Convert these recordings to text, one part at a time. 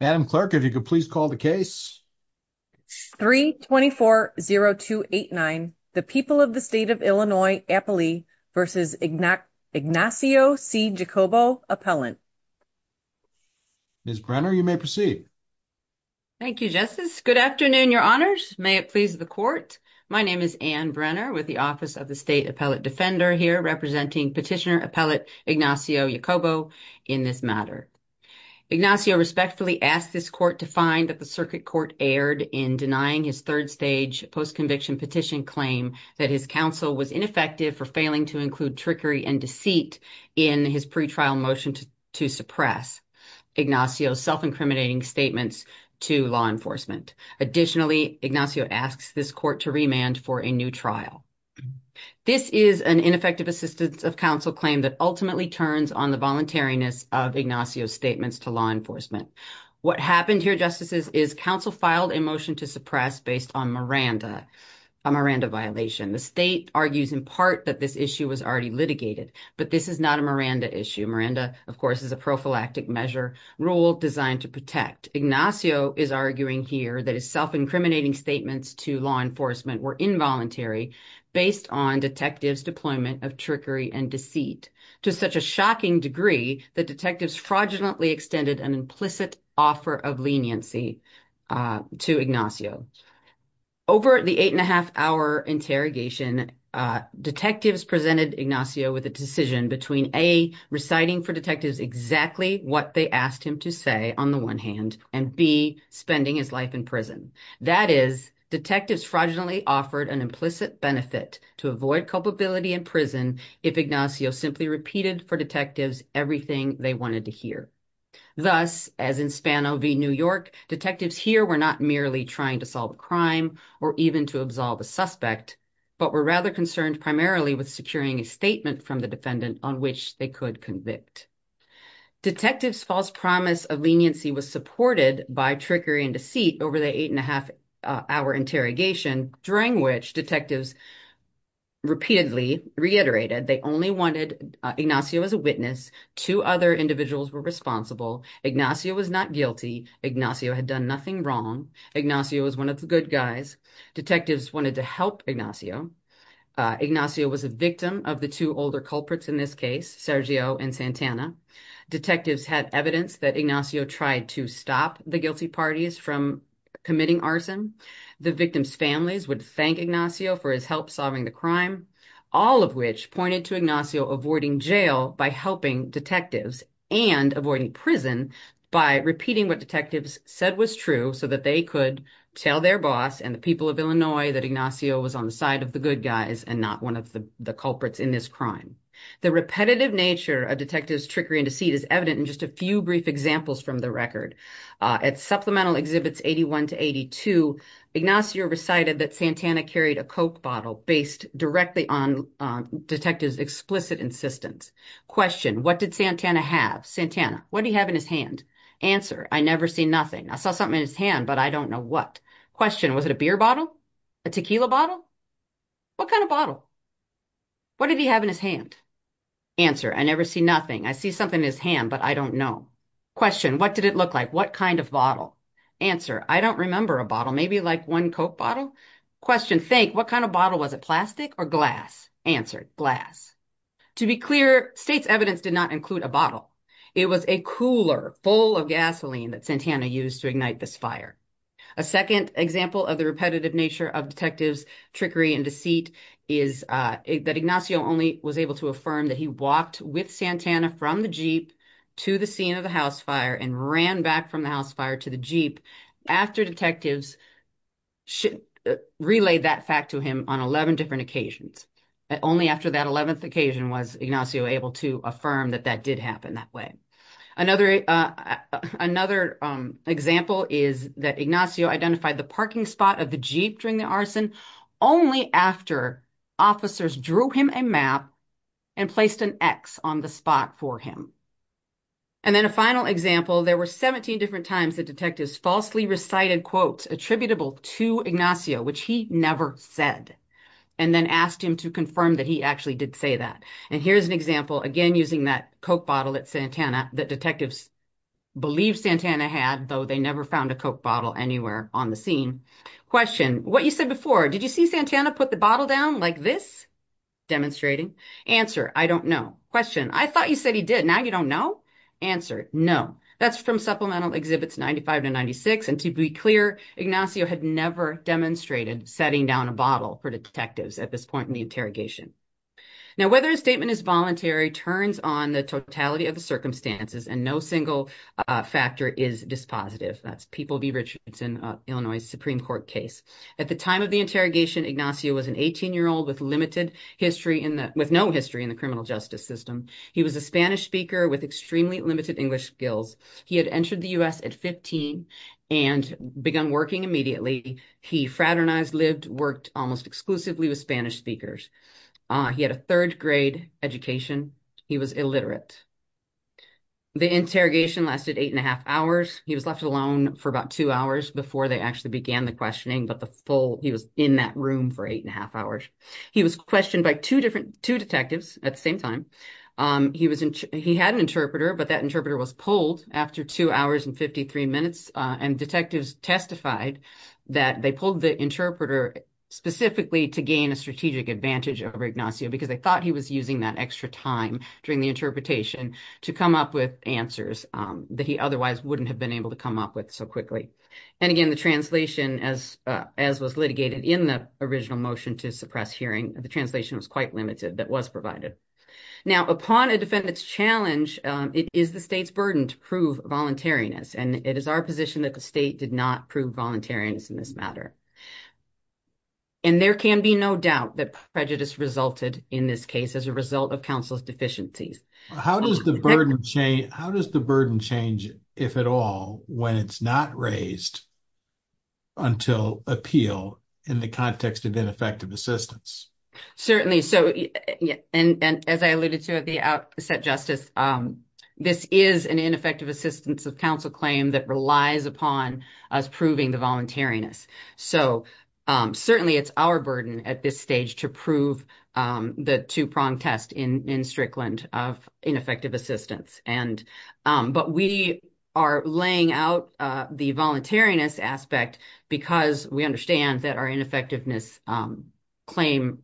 Adam clerk, if you could please call the case 324-0289. The people of the state of Illinois, Appalachia versus Ignacio C. Jacobo appellant. Ms. Brenner, you may proceed. Thank you, Justice. Good afternoon, your honors. May it please the court. My name is Anne Brenner with the Office of the State Appellate Defender here representing Petitioner Appellate Ignacio Jacobo in this matter. Ignacio respectfully asked this court to find that the circuit court erred in denying his third stage post-conviction petition claim that his counsel was ineffective for failing to include trickery and deceit in his pretrial motion to suppress Ignacio's self-incriminating statements to law enforcement. Additionally, Ignacio asks this court to remand for a new trial. This is an ineffective assistance of counsel claim that ultimately turns on the voluntariness of Ignacio's statements to law enforcement. What happened here, Justices, is counsel filed a motion to suppress based on Miranda, a Miranda violation. The state argues in part that this issue was already litigated, but this is not a Miranda issue. Miranda, of course, is a prophylactic measure rule designed to protect. Ignacio is arguing here that his self-incriminating statements to law enforcement were involuntary based on detectives' deployment of trickery and deceit to such a shocking degree that detectives fraudulently extended an implicit offer of leniency to Ignacio. Over the eight and a half hour interrogation, detectives presented Ignacio with a decision between A, reciting for detectives exactly what they asked him to say on the one hand, and B, spending his life in prison. That is, detectives fraudulently offered an implicit benefit to avoid culpability in prison if Ignacio simply repeated for detectives everything they wanted to hear. Thus, as in Spano v. New York, detectives here were not merely trying to solve a crime or even to absolve a suspect, but were rather concerned primarily with securing a statement from the defendant on which they could convict. Detectives' false promise of leniency was supported by trickery and deceit over the eight and a half hour interrogation, during which detectives repeatedly reiterated they only wanted Ignacio as a witness. Two other individuals were responsible. Ignacio was not guilty. Ignacio had done nothing wrong. Ignacio was one of the good guys. Detectives wanted to help Ignacio. Ignacio was a victim of the two older culprits in this case, Sergio and Santana. Detectives had evidence that Ignacio tried to stop the guilty parties from committing arson. The victim's families would thank Ignacio for his help solving the crime, all of which pointed to Ignacio avoiding jail by helping detectives and avoiding prison by repeating what detectives said was true so that they could tell their boss and the people of Illinois that Ignacio was on the side of the good guys and not one of the culprits in this crime. The repetitive nature of detectives' trickery and deceit is evident in just a few brief examples from the record. At Supplemental Exhibits 81 to 82, Ignacio recited that Santana carried a coke bottle based directly on detectives' explicit insistence. Question, what did Santana have? Santana, what do you have in his hand? Answer, I never see nothing. I saw something in his hand, but I don't know what. Question, was it a beer bottle? A tequila bottle? What kind of bottle? What did he have in his hand? Answer, I never see nothing. I see something in his hand, but I don't know. Question, what did it look like? What kind of bottle? Answer, I don't remember a bottle, maybe like one coke bottle. Question, think, what kind of bottle? Was it plastic or glass? Answer, glass. To be clear, state's evidence did not include a bottle. It was a cooler full of gasoline that Santana used to ignite this fire. A second example of the repetitive nature of detectives' trickery and deceit is that Ignacio only was able to affirm that he walked with Santana from the Jeep to the scene of the house fire and ran back from the house fire to the Jeep after detectives relayed that fact to him on 11 different occasions. Only after that 11th occasion was Ignacio able to affirm that that did happen that way. Another example is that Ignacio identified the parking spot of the Jeep during the arson only after officers drew him a map and placed an X on the parking spot for him. And then a final example, there were 17 different times that detectives falsely recited quotes attributable to Ignacio, which he never said, and then asked him to confirm that he actually did say that. And here's an example, again using that coke bottle at Santana that detectives believe Santana had, though they never found a coke bottle anywhere on the scene. Question, what you said before, did you see Santana put the bottle down like this? Demonstrating. Answer, I don't know. Question, I thought you said he did, now you don't know? Answer, no. That's from Supplemental Exhibits 95 to 96, and to be clear, Ignacio had never demonstrated setting down a bottle for detectives at this point in the interrogation. Now whether a statement is voluntary turns on the totality of the circumstances and no single factor is dispositive. That's People v. Richardson, Illinois Supreme Court case. At the time of the interrogation, Ignacio was an 18-year-old with no history in the criminal justice system. He was a Spanish speaker with extremely limited English skills. He had entered the U.S. at 15 and begun working immediately. He fraternized, lived, worked almost exclusively with Spanish speakers. He had a third grade education. He was illiterate. The interrogation lasted eight and a half hours. He was left alone for about two hours before they actually began the questioning, but he was in that room for eight and a half hours. He was questioned by two detectives at the same time. He had an interpreter, but that interpreter was pulled after two hours and 53 minutes, and detectives testified that they pulled the interpreter specifically to gain a strategic advantage over Ignacio because they thought he was using that extra time during the interpretation to come up with answers that he otherwise wouldn't have been able to come up with so quickly. And again, the translation, as was litigated in the original motion to suppress hearing, the translation was quite limited that was provided. Now, upon a defendant's challenge, it is the state's burden to prove voluntariness, and it is our position that the state did not prove voluntariness in this matter. And there can be no doubt that prejudice resulted in this case as a result of counsel's deficiencies. How does the burden change, if at all, when it's not raised until appeal in the context of ineffective assistance? Certainly. And as I alluded to at the outset, Justice, this is an ineffective assistance of counsel claim that relies upon us proving the voluntariness. So certainly it's our burden at this stage to prove the two-pronged test in Strickland of ineffective assistance. But we are laying out the voluntariness aspect because we understand that our ineffectiveness claim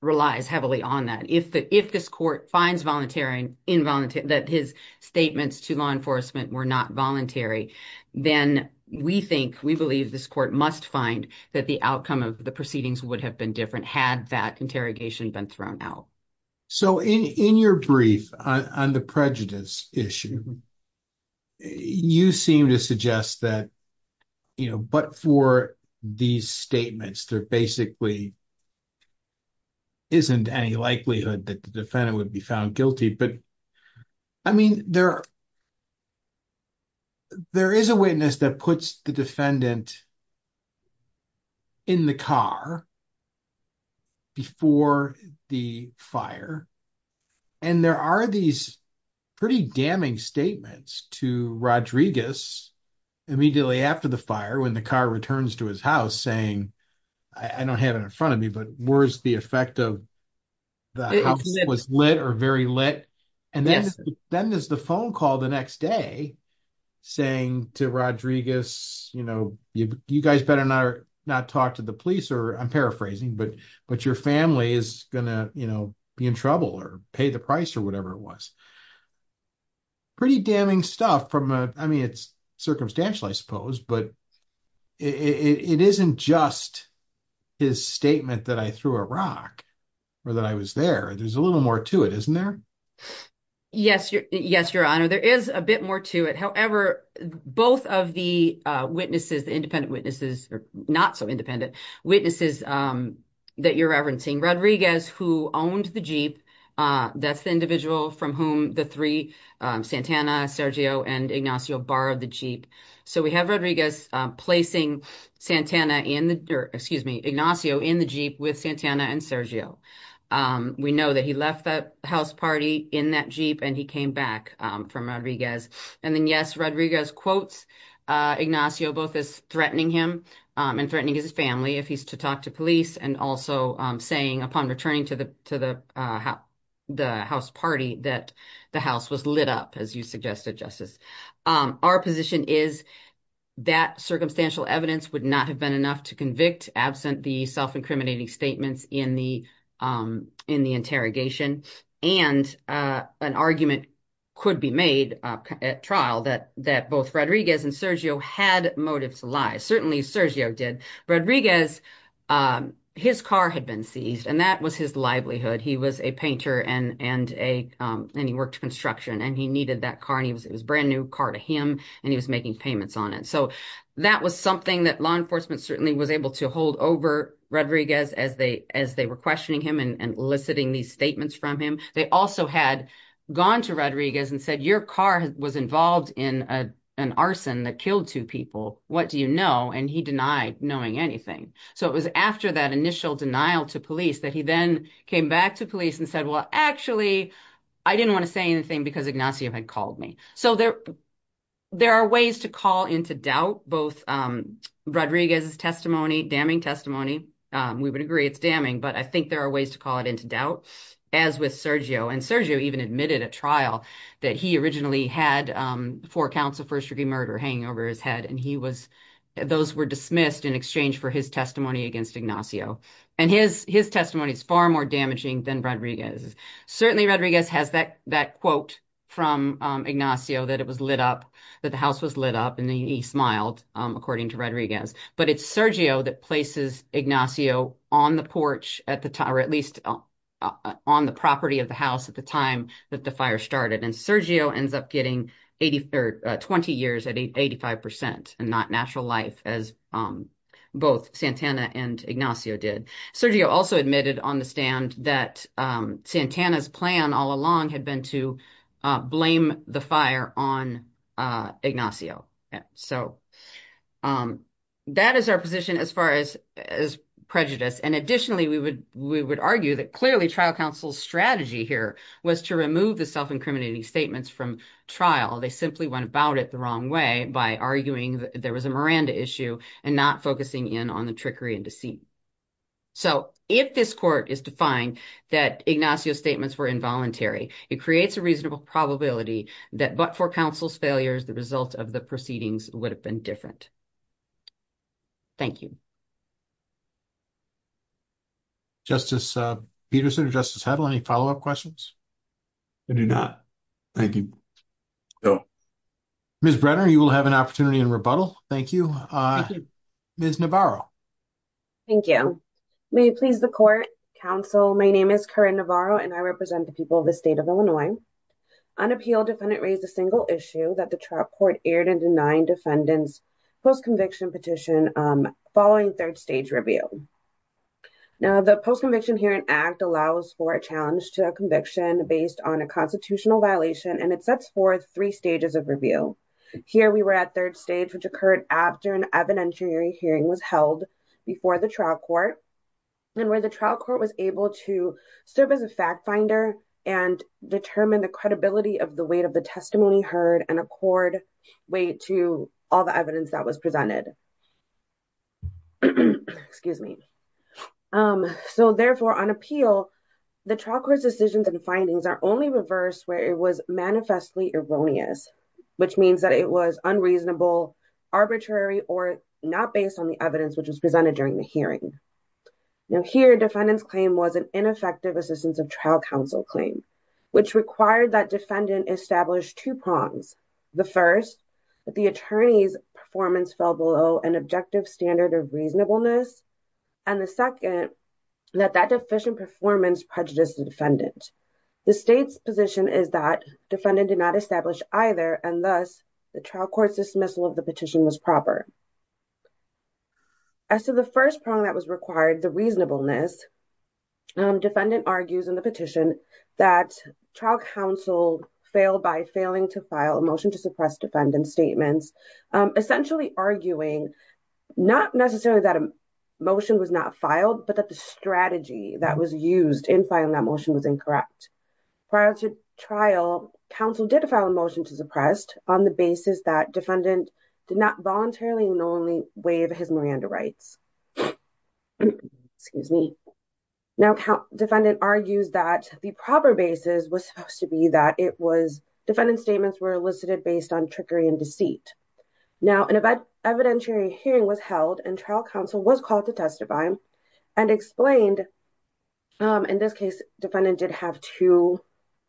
relies heavily on that. If this court finds that his statements to law enforcement were not voluntary, then we think, we believe this court must find that the outcome of the proceedings would have been different had that interrogation been thrown out. So in your brief on the prejudice issue, you seem to suggest that, you know, but for these statements, there basically isn't any likelihood that the defendant would be found in the car before the fire. And there are these pretty damning statements to Rodriguez immediately after the fire when the car returns to his house saying, I don't have it in front of me, but where's the effect of the house was lit or very lit. And then there's the phone call the next day saying to Rodriguez, you know, you guys better not talk to the police or I'm paraphrasing, but your family is gonna, you know, be in trouble or pay the price or whatever it was. Pretty damning stuff from a, I mean, it's circumstantial, I suppose, but it isn't just his statement that I threw a rock or that I was there. There's a little more to it, isn't there? Yes, Your Honor. There is a bit more to it. However, both of the witnesses, the independent witnesses or not so independent witnesses that you're referencing, Rodriguez who owned the Jeep, that's the individual from whom the three, Santana, Sergio and Ignacio borrowed the Jeep. So we have Rodriguez placing Santana in the, or excuse me, Ignacio in the Jeep with Santana and Sergio. We know that he left that house party in that Jeep and he came back from Rodriguez. And then yes, Rodriguez quotes Ignacio both as threatening him and threatening his family if he's to talk to police and also saying upon returning to the house party that the house was lit up as you suggested, Justice. Our position is that circumstantial evidence would not have been enough to convict absent the self-incriminating statements in the interrogation. And an argument could be made at trial that both Rodriguez and Sergio had motives to lie. Certainly Sergio did. Rodriguez, his car had been seized and that was his livelihood. He was a painter and he worked construction and he needed that car and it was a brand new car to him and he was making payments on it. So that was something that law as they were questioning him and eliciting these statements from him. They also had gone to Rodriguez and said, your car was involved in an arson that killed two people. What do you know? And he denied knowing anything. So it was after that initial denial to police that he then came back to police and said, well, actually I didn't want to say anything because Ignacio had called me. So there are ways to call into doubt both Rodriguez's testimony, damning testimony, we would agree it's damning, but I think there are ways to call it into doubt as with Sergio. And Sergio even admitted at trial that he originally had four counts of first-degree murder hanging over his head and he was, those were dismissed in exchange for his testimony against Ignacio. And his testimony is far more damaging than Rodriguez's. Certainly Rodriguez has that quote from Ignacio that it was lit up, that the house was lit up and he smiled according to Rodriguez, but it's Sergio that places Ignacio on the porch at the time, or at least on the property of the house at the time that the fire started. And Sergio ends up getting 20 years at 85% and not natural life as both Santana and Ignacio did. Sergio also admitted on the stand that Santana's plan all along had been to blame the fire on Ignacio. So that is our position as far as prejudice. And additionally, we would argue that clearly trial counsel's strategy here was to remove the self-incriminating statements from trial. They simply went about it the wrong way by arguing that there was a Miranda issue and not focusing in on the trickery and deceit. So if this court is defying that Ignacio's statements were involuntary, it creates a reasonable probability that but for counsel's failures, the results of the proceedings would have been different. Thank you. Justice Peterson, Justice Hedl, any follow-up questions? I do not. Thank you. Ms. Brenner, you will have an opportunity in rebuttal. Thank you. Ms. Navarro. Thank you. May it please the court, counsel, my name is Corinne Navarro and I represent the state of Illinois. Unappealed defendant raised a single issue that the trial court aired and denied defendants post-conviction petition following third stage review. Now the post-conviction hearing act allows for a challenge to a conviction based on a constitutional violation and it sets forth three stages of review. Here we were at third stage, which occurred after an evidentiary hearing was held before the trial court and where the trial court was able to serve as a fact finder and determine the credibility of the weight of the testimony heard and accord weight to all the evidence that was presented. Excuse me. So therefore on appeal, the trial court's decisions and findings are only reversed where it was manifestly erroneous, which means that it was unreasonable, arbitrary, or not based on the evidence which was presented during the hearing. Now here defendant's claim was an assistance of trial counsel claim, which required that defendant established two prongs. The first, that the attorney's performance fell below an objective standard of reasonableness and the second, that that deficient performance prejudiced the defendant. The state's position is that defendant did not establish either and thus the trial court's dismissal of the petition was improper. As to the first prong that was required, the reasonableness, defendant argues in the petition that trial counsel failed by failing to file a motion to suppress defendant's statements, essentially arguing not necessarily that a motion was not filed but that the strategy that was used in filing that motion was incorrect. Prior to trial, counsel did file a motion to suppress on the basis that defendant did not voluntarily normally waive his Miranda rights. Excuse me. Now defendant argues that the proper basis was supposed to be that it was defendant's statements were elicited based on trickery and deceit. Now an evidentiary hearing was held and trial counsel was called to testify and explained, in this case defendant did have two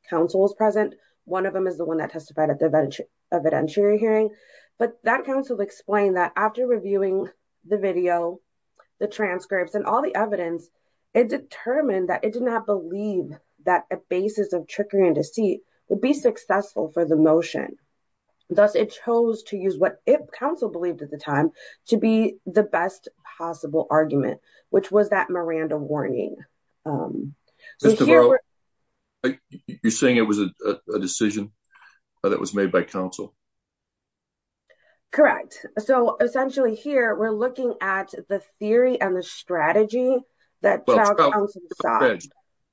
counsels present, one of them is the one that testified at the evidentiary hearing, but that counsel explained that after reviewing the video, the transcripts, and all the evidence, it determined that it did not believe that a basis of trickery and deceit would be successful for the motion. Thus it chose to use what it counsel believed at the time to be the best possible argument, which was that Miranda warning. You're saying it was a decision that was made by counsel? Correct. So essentially here we're looking at the theory and the strategy that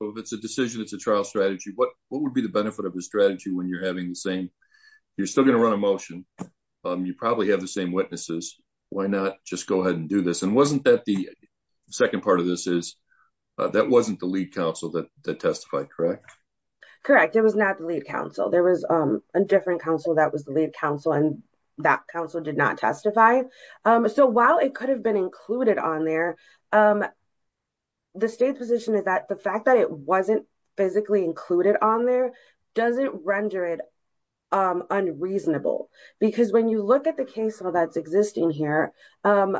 if it's a decision, it's a trial strategy. What would be the benefit of a strategy when you're having the same, you're still going to run a motion, you probably have the same witnesses, why not just go ahead and do this? And wasn't that the second part of this is, that wasn't the lead counsel that testified, correct? Correct, it was not the lead counsel, there was a different counsel that was the lead counsel and that counsel did not testify. So while it could have been included on there, the state's position is that the fact that it wasn't physically included on there doesn't render it unreasonable because when you look at the existing case law,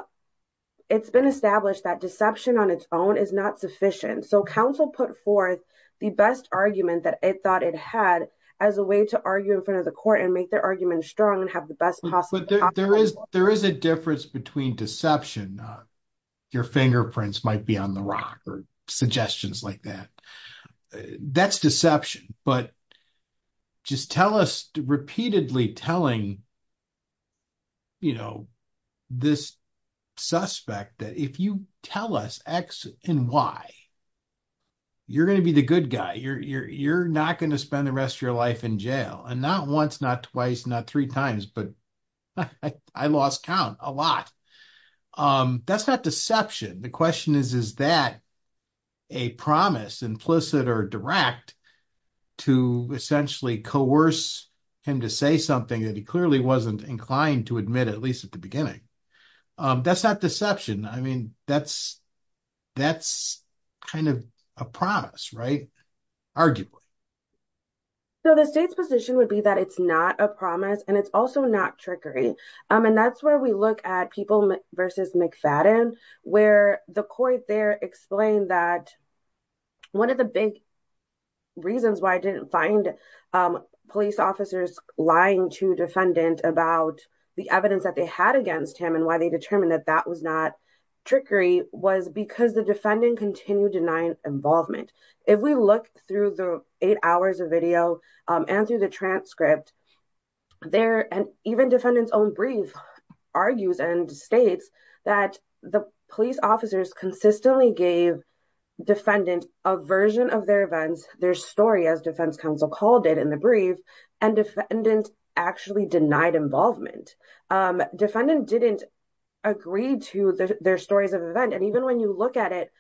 it's been established that deception on its own is not sufficient. So counsel put forth the best argument that it thought it had as a way to argue in front of the court and make their argument strong and have the best possible outcome. There is a difference between deception, your fingerprints might be on the rock or suggestions like that. That's deception, but just tell us repeatedly telling this suspect that if you tell us X and Y, you're going to be the good guy, you're not going to spend the rest of your life in jail, and not once, not twice, not three times, but I lost count a lot. That's not deception, the question is, is that a promise implicit or direct to essentially coerce him to say something that he clearly wasn't inclined to admit at least at the beginning? That's not deception, I mean that's kind of a promise, right? Arguably. So the state's position would be that it's not a promise and it's also not trickery. And that's where we look at people versus McFadden, where the court there explained that one of the big reasons why I didn't find police officers lying to defendant about the evidence that they had against him and why they determined that that was not trickery was because the defendant continued denying involvement. If we look through the eight hours of video and through the transcript, there and even defendant's own brief argues and states that the police officers consistently gave defendant a version of their events, their story as defense counsel called it in the brief, and defendant actually denied involvement. Defendant didn't agree to their stories of event and even when you look at it,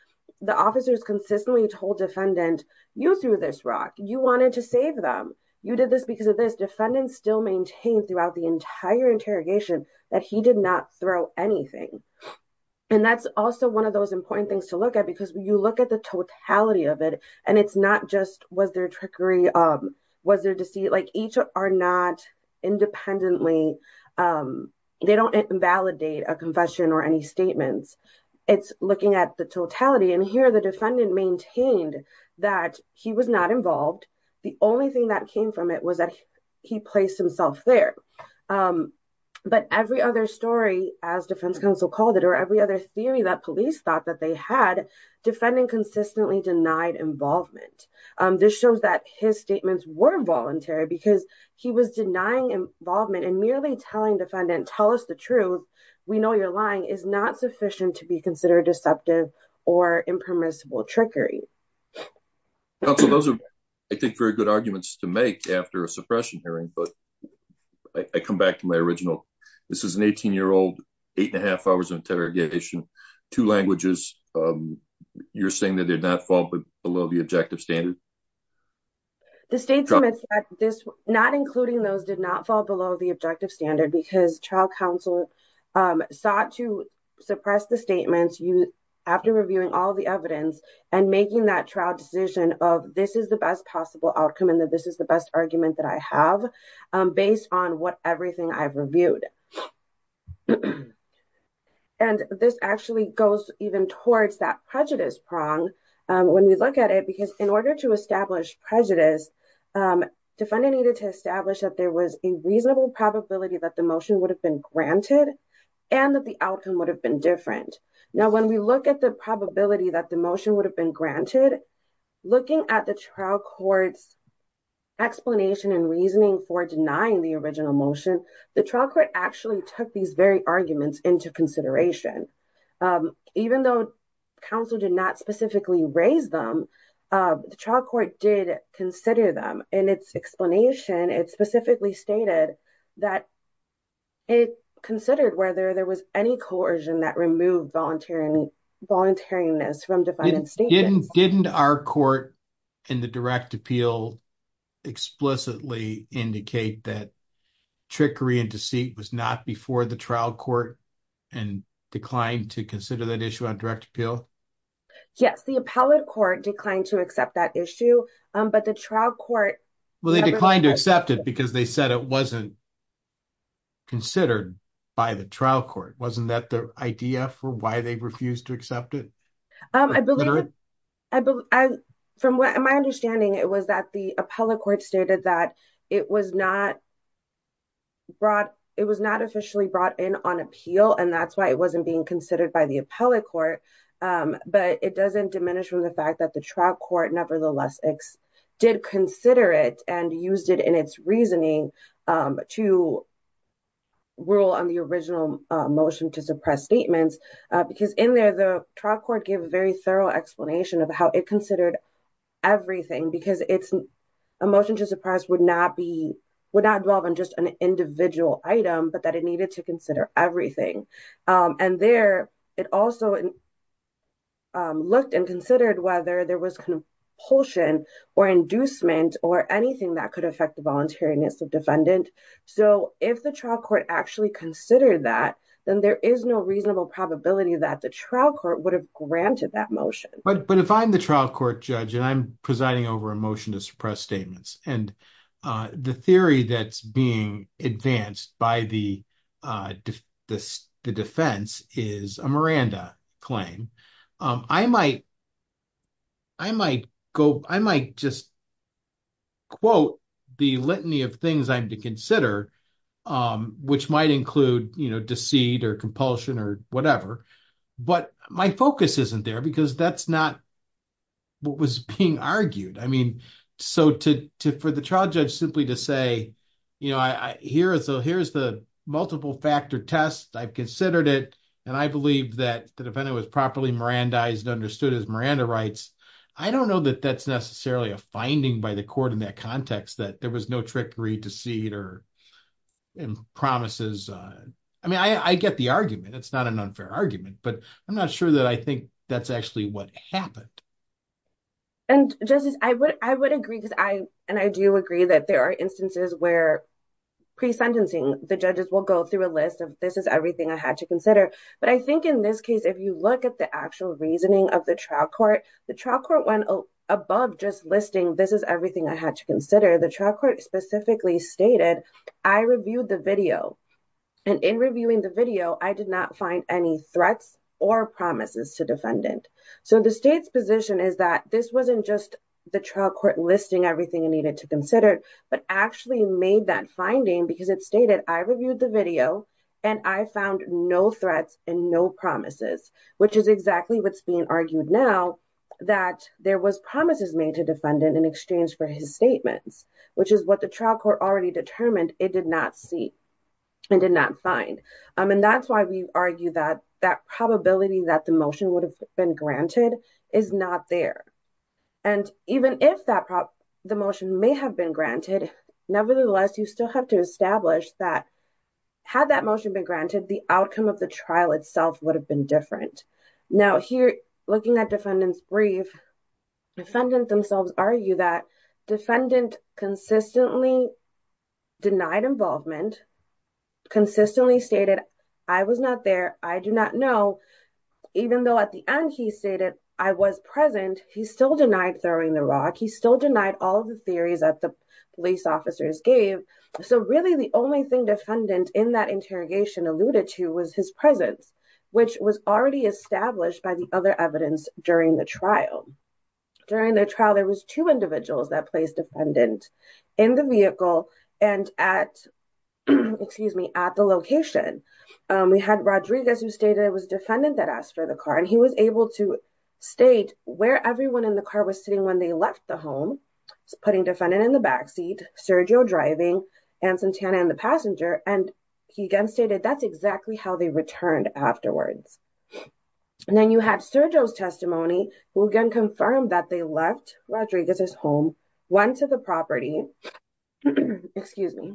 the officers consistently told defendant, you threw this rock, you wanted to save them, you did this because of this. Defendant still maintained throughout the entire interrogation that he did not throw anything. And that's also one of those important things to look at because you look at the totality of it and it's not just was there trickery, was there deceit, like each are not independently, they don't invalidate a confession or any statements. It's looking at the here the defendant maintained that he was not involved. The only thing that came from it was that he placed himself there. But every other story as defense counsel called it or every other theory that police thought that they had, defendant consistently denied involvement. This shows that his statements were involuntary because he was denying involvement and merely telling defendant, tell us the truth, we know you're lying is not sufficient to be considered deceptive or impermissible trickery. Those are, I think, very good arguments to make after a suppression hearing. But I come back to my original. This is an 18 year old, eight and a half hours of interrogation, two languages. You're saying that they're not fall below the objective standard. The state's not including those did not fall below the objective standard because trial counsel sought to suppress the statements you after reviewing all the evidence and making that trial decision of this is the best possible outcome and that this is the best argument that I have based on what everything I've reviewed. And this actually goes even towards that prejudice prong when we look at it, because in order to establish prejudice, defendant needed to establish that there was a reasonable probability that the motion would have been granted and that the outcome would have been different. Now, when we look at the probability that the motion would have been granted, looking at the trial court's explanation and reasoning for denying the original motion, the trial court actually took these very arguments into consideration. Even though counsel did not specifically raise them, the trial court did consider them and its explanation, it specifically stated that. It considered whether there was any coercion that removed volunteering, volunteering this from defining state didn't didn't our court in the direct appeal explicitly indicate that trickery and deceit was not before the trial court and declined to consider that issue on direct appeal. Yes, the appellate court declined to accept that issue, but the trial court. Well, they declined to accept it because they said it wasn't considered by the trial court. Wasn't that the idea for why they refused to accept it? From my understanding, it was that the appellate court stated that it was not brought. It was not officially brought in on appeal, and that's why it wasn't being considered by the appellate court. But it doesn't diminish from the fact that the trial court nevertheless did consider it and used it in its reasoning to. Rule on the original motion to suppress statements because in there, the trial court gave a very thorough explanation of how it considered everything because it's a motion to suppress would not be would not involve in just an individual item, but that it needed to consider everything. And there it also. Looked and considered whether there was compulsion or inducement or anything that could affect the voluntariness of defendant. So if the trial court actually considered that, then there is no reasonable probability that the trial court would have granted that motion. But if I'm the trial court judge and I'm presiding over a motion to suppress statements and the theory that's being advanced by the defense is a Miranda claim, I might. I might go. I might just quote the litany of things I'm to consider, which might include, you know, deceit or compulsion or whatever. But my focus isn't there because that's not what was being argued. I mean, so to for the trial judge simply to say, you know, I hear it. So here's the multiple factor test. I've considered it and I believe that the defendant was properly Miranda is understood as Miranda rights. I don't know that that's necessarily a finding by the court in that context that there was no trickery to see it or promises. I mean, I get the argument. It's not an unfair argument, but I'm not sure that I think that's actually what happened. And just as I would, I would agree because I, and I do agree that there are instances where pre sentencing, the judges will go through a list of this is everything I had to consider. But I think in this case, if you look at the actual reasoning of the trial court, the trial court went above just listing, this is everything I had to consider. The trial court specifically stated, I reviewed the video and in reviewing the video, I did not any threats or promises to defendant. So the state's position is that this wasn't just the trial court listing everything it needed to consider, but actually made that finding because it stated, I reviewed the video and I found no threats and no promises, which is exactly what's being argued now that there was promises made to defendant in exchange for his statements, which is what the trial court already determined. It did not see and did not find. And that's why we argue that that probability that the motion would have been granted is not there. And even if the motion may have been granted, nevertheless, you still have to establish that had that motion been granted, the outcome of the trial itself would have been different. Now here, looking at defendant's brief, defendant themselves argue that defendant consistently denied involvement, consistently stated, I was not there. I do not know. Even though at the end he stated I was present, he still denied throwing the rock. He still denied all of the theories that the police officers gave. So really the only thing defendant in that interrogation alluded to was his presence, which was already established by the other evidence during the trial. During the trial, there was two individuals that placed defendant in the vehicle and at the location. We had Rodriguez who stated it was defendant that asked for the car and he was able to state where everyone in the car was sitting when they left the home, putting defendant in the backseat, Sergio driving, and Santana in the passenger. And he again stated that's exactly how they returned afterwards. And then you had Sergio's testimony who again confirmed that they left Rodriguez's home, went to the property, excuse me,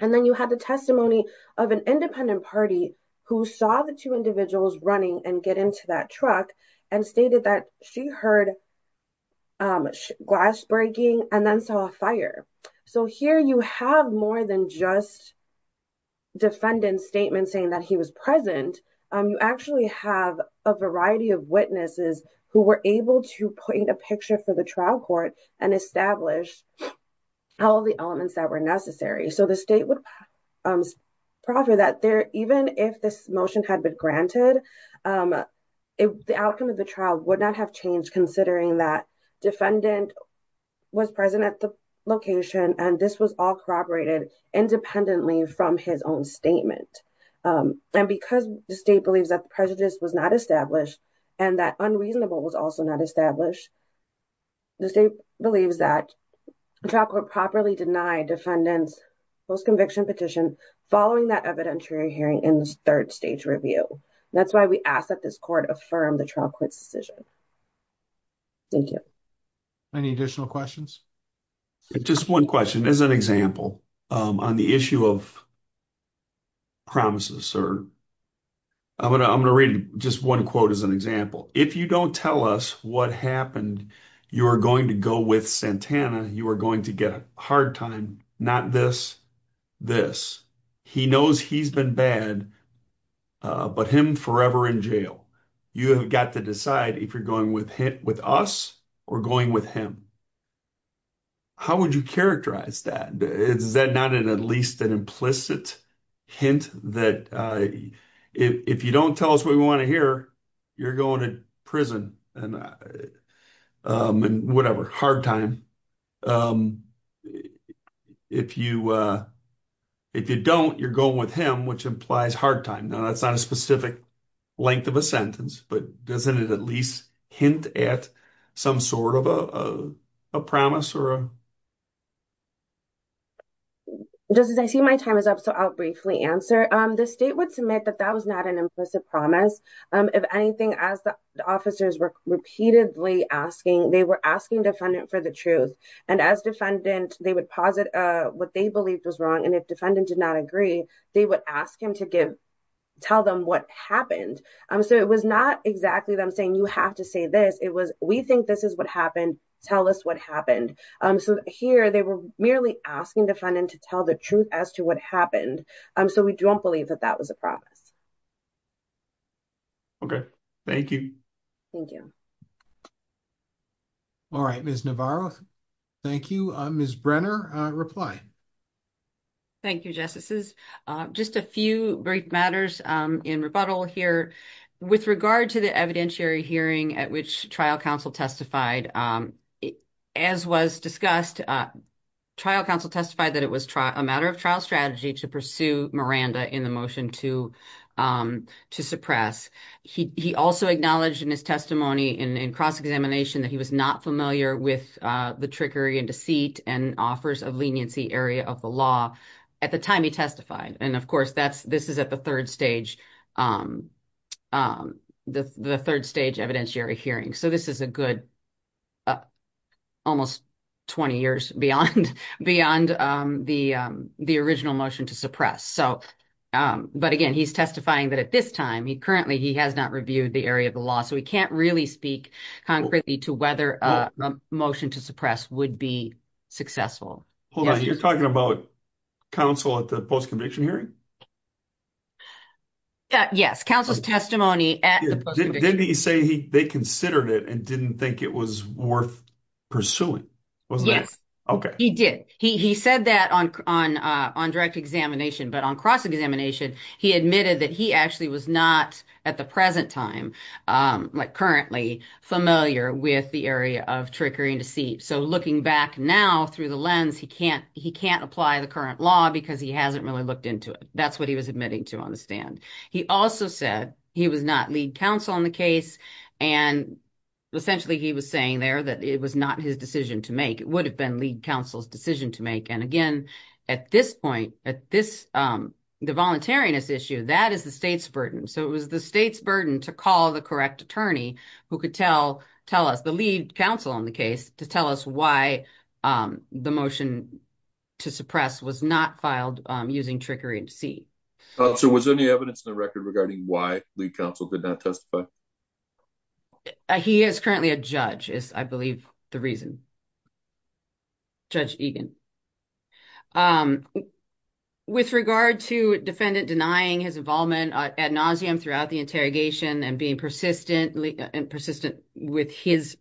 and then you had the testimony of an independent party who saw the two individuals running and get into that truck and stated that she heard glass breaking and then saw a fire. So here you have more than just defendant's statement saying that he was present. You actually have a variety of witnesses who were able to point a picture for the trial court and establish all of the elements that were necessary. So the state would proffer that even if this motion had been granted, the outcome of the trial would not have changed considering that defendant was present at the location and this was all corroborated independently from his own statement. And because the state believes that the prejudice was not established and that unreasonable was also not established, the state believes that the trial court properly denied defendant's post-conviction petition following that evidentiary hearing in the third stage review. That's why we ask that this court affirm the trial court's decision. Thank you. Any additional questions? Just one question as an example on the issue of promises, sir. I'm going to read just one quote as an example. If you don't tell us what happened, you are going to go with Santana, you are going to get a hard time, not this, this. He knows he's been bad, but him forever in jail. You have got to decide if you're going with us or going with him. How would you characterize that? Is that not at least an implicit hint that if you don't tell us what we want to hear, you're going to prison and whatever, hard time. If you don't, you're going with him, which implies hard time. Now that's not a specific length of a sentence, but doesn't it at least hint at some sort of a promise? I see my time is up, so I'll briefly answer. The state would submit that that was not an implicit promise. If anything, as the officers were repeatedly asking, they were asking defendant for the truth. And as defendant, they would posit what they believed was wrong. And if defendant did not agree, they would ask him to tell them what happened. So it was not exactly them saying, you have to say this. It was, we think this is what happened. Tell us what happened. So here they were merely asking defendant to tell the truth as to what happened. So we don't believe that that was a promise. Okay. Thank you. Thank you. All right, Ms. Navarro. Thank you. Ms. Brenner, reply. Thank you, Justices. Just a few brief matters in rebuttal here. With regard to the evidentiary hearing at which trial counsel testified, as was discussed, trial counsel testified that it was a matter of trial strategy to pursue Miranda in the motion to suppress. He also acknowledged in his testimony in cross-examination that he was not familiar with the trickery and deceit and offers of leniency area of the law at the time he testified. And of course, that's, this is at the third stage, the third stage evidentiary hearing. So this is a good, almost 20 years beyond the original motion to suppress. So, but again, he's testifying that this time, he currently, he has not reviewed the area of the law. So he can't really speak concretely to whether a motion to suppress would be successful. Hold on. You're talking about counsel at the post-conviction hearing? Yes. Counsel's testimony at the post-conviction hearing. Didn't he say they considered it and didn't think it was worth pursuing? Yes. Okay. He did. He said that on, on, on direct examination, but on cross-examination, he admitted that he actually was not at the present time, like currently familiar with the area of trickery and deceit. So looking back now through the lens, he can't, he can't apply the current law because he hasn't really looked into it. That's what he was admitting to on the stand. He also said he was not lead counsel in the case. And essentially he was saying there that it was not his decision to make. It at this point, at this, the voluntariness issue, that is the state's burden. So it was the state's burden to call the correct attorney who could tell, tell us the lead counsel on the case to tell us why the motion to suppress was not filed using trickery and deceit. So was there any evidence in the record regarding why lead counsel did not testify? He is currently a judge is I the reason. Judge Egan. With regard to defendant denying his involvement ad nauseum throughout the interrogation and being persistent and persistent with his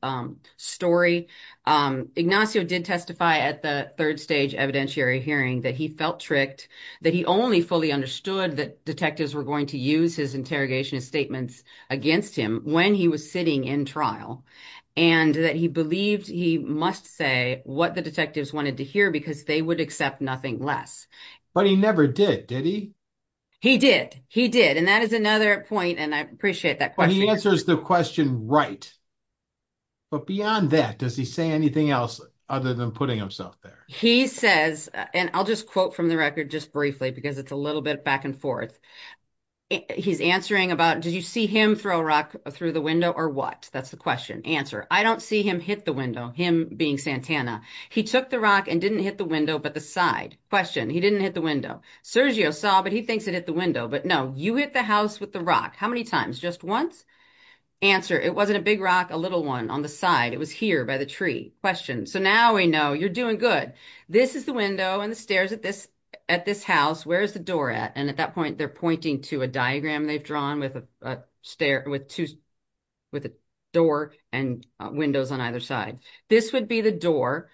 story, Ignacio did testify at the third stage evidentiary hearing that he felt tricked, that he only fully understood that detectives were going to use his interrogation and statements against him when he was sitting in trial and that he believed he must say what the detectives wanted to hear because they would accept nothing less. But he never did. Did he? He did. He did. And that is another point. And I appreciate that. But he answers the question, right? But beyond that, does he say anything else other than putting himself there? He says, and I'll just quote from the record just briefly, because it's a little bit back and forth. He's answering about, did you see him throw a rock through the window or what? That's the question. Answer. I don't see him hit the window, him being Santana. He took the rock and didn't hit the window, but the side. Question. He didn't hit the window. Sergio saw, but he thinks it hit the window, but no, you hit the house with the rock. How many times? Just once? Answer. It wasn't a big rock, a little one on the side. It was here by the tree. Question. So now we know you're doing good. This is the window and the stairs at this house. Where's the door at? And at that point, they're pointing to a diagram they've drawn with a door and windows on either side. This would be the door.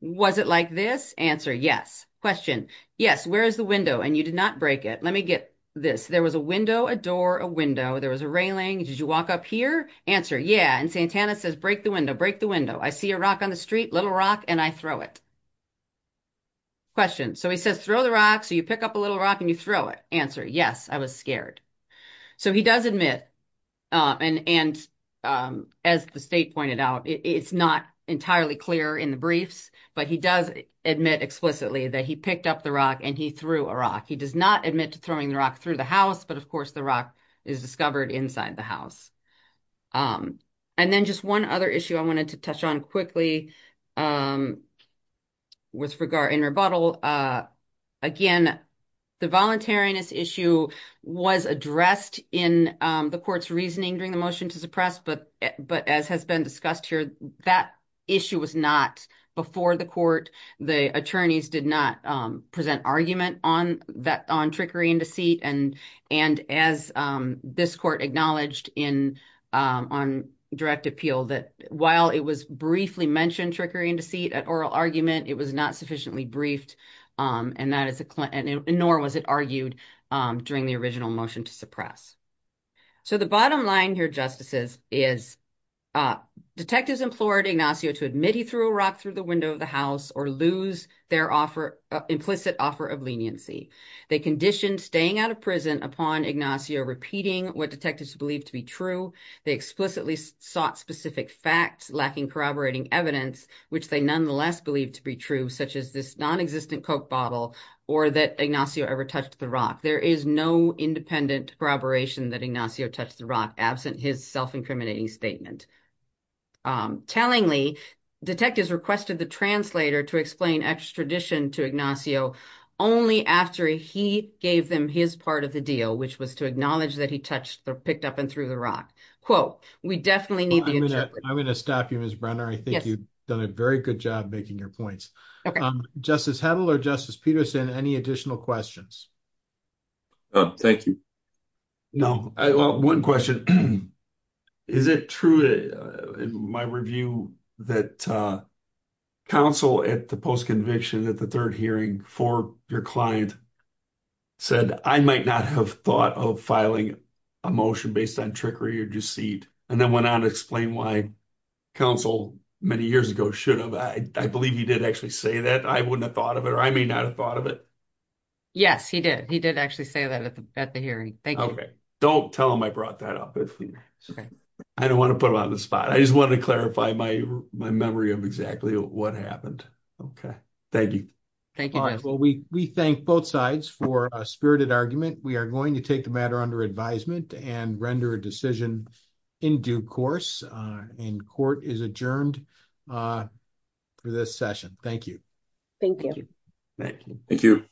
Was it like this? Answer. Yes. Question. Yes. Where is the window? And you did not break it. Let me get this. There was a window, a door, a window. There was a railing. Did you walk up here? Answer. Yeah. And Santana says, break the window, break the window. I see a rock on the street, little rock, and I throw it. Question. So he says, throw the rock. So you pick up a little rock and you throw it. Answer. Yes, I was scared. So he does admit, and as the state pointed out, it's not entirely clear in the briefs, but he does admit explicitly that he picked up the rock and he threw a rock. He does not admit to throwing the rock through the house, but of course the rock is discovered inside the house. And then just one other issue I wanted to touch on quickly with regard in rebuttal. Again, the voluntariness issue was addressed in the court's reasoning during the motion to suppress, but as has been discussed here, that issue was not before the court. The attorneys did not present argument on trickery and deceit. And as this court acknowledged on direct appeal, that while it was briefly mentioned trickery and deceit at oral argument, it was not sufficiently briefed, nor was it argued during the original motion to suppress. So the bottom line here, Justices, is detectives implored Ignacio to admit he threw a rock through the window of the house or lose their implicit offer of leniency. They conditioned staying out of prison upon Ignacio repeating what detectives believed to be true. They explicitly sought specific facts lacking corroborating evidence, which they nonetheless believe to be true, such as this non-existent coke bottle or that Ignacio ever touched the rock. There is no independent corroboration that Ignacio touched the rock absent his self-incriminating statement. Tellingly, detectives requested the translator to explain extradition to Ignacio only after he gave them his part of the deal, which was to acknowledge that he touched or picked up and threw the rock. Quote, we definitely need the interpreter. I'm going to stop you, Ms. Brenner. I think you've done a very good job making your points. Justice Hedl or Justice Peterson, any additional questions? Thank you. No. Well, one question. Is it true in my review that counsel at the post-conviction at the third hearing for your client said, I might not have thought of filing a motion based on trickery or deceit, and then went on to explain why counsel many years ago should have. I believe he did actually say that. I wouldn't have thought of it, or I may not have thought of it. Yes, he did. He did actually say that at the hearing. Thank you. Okay. Don't tell him I brought that up. I don't want to put him on the spot. I just wanted to clarify my memory of exactly what happened. Okay. Thank you. Thank you. All right. Well, we thank both sides for a spirited argument. We are going to take the matter under advisement and render a decision in due course. Court is adjourned for this session. Thank you. Thank you. Thank you.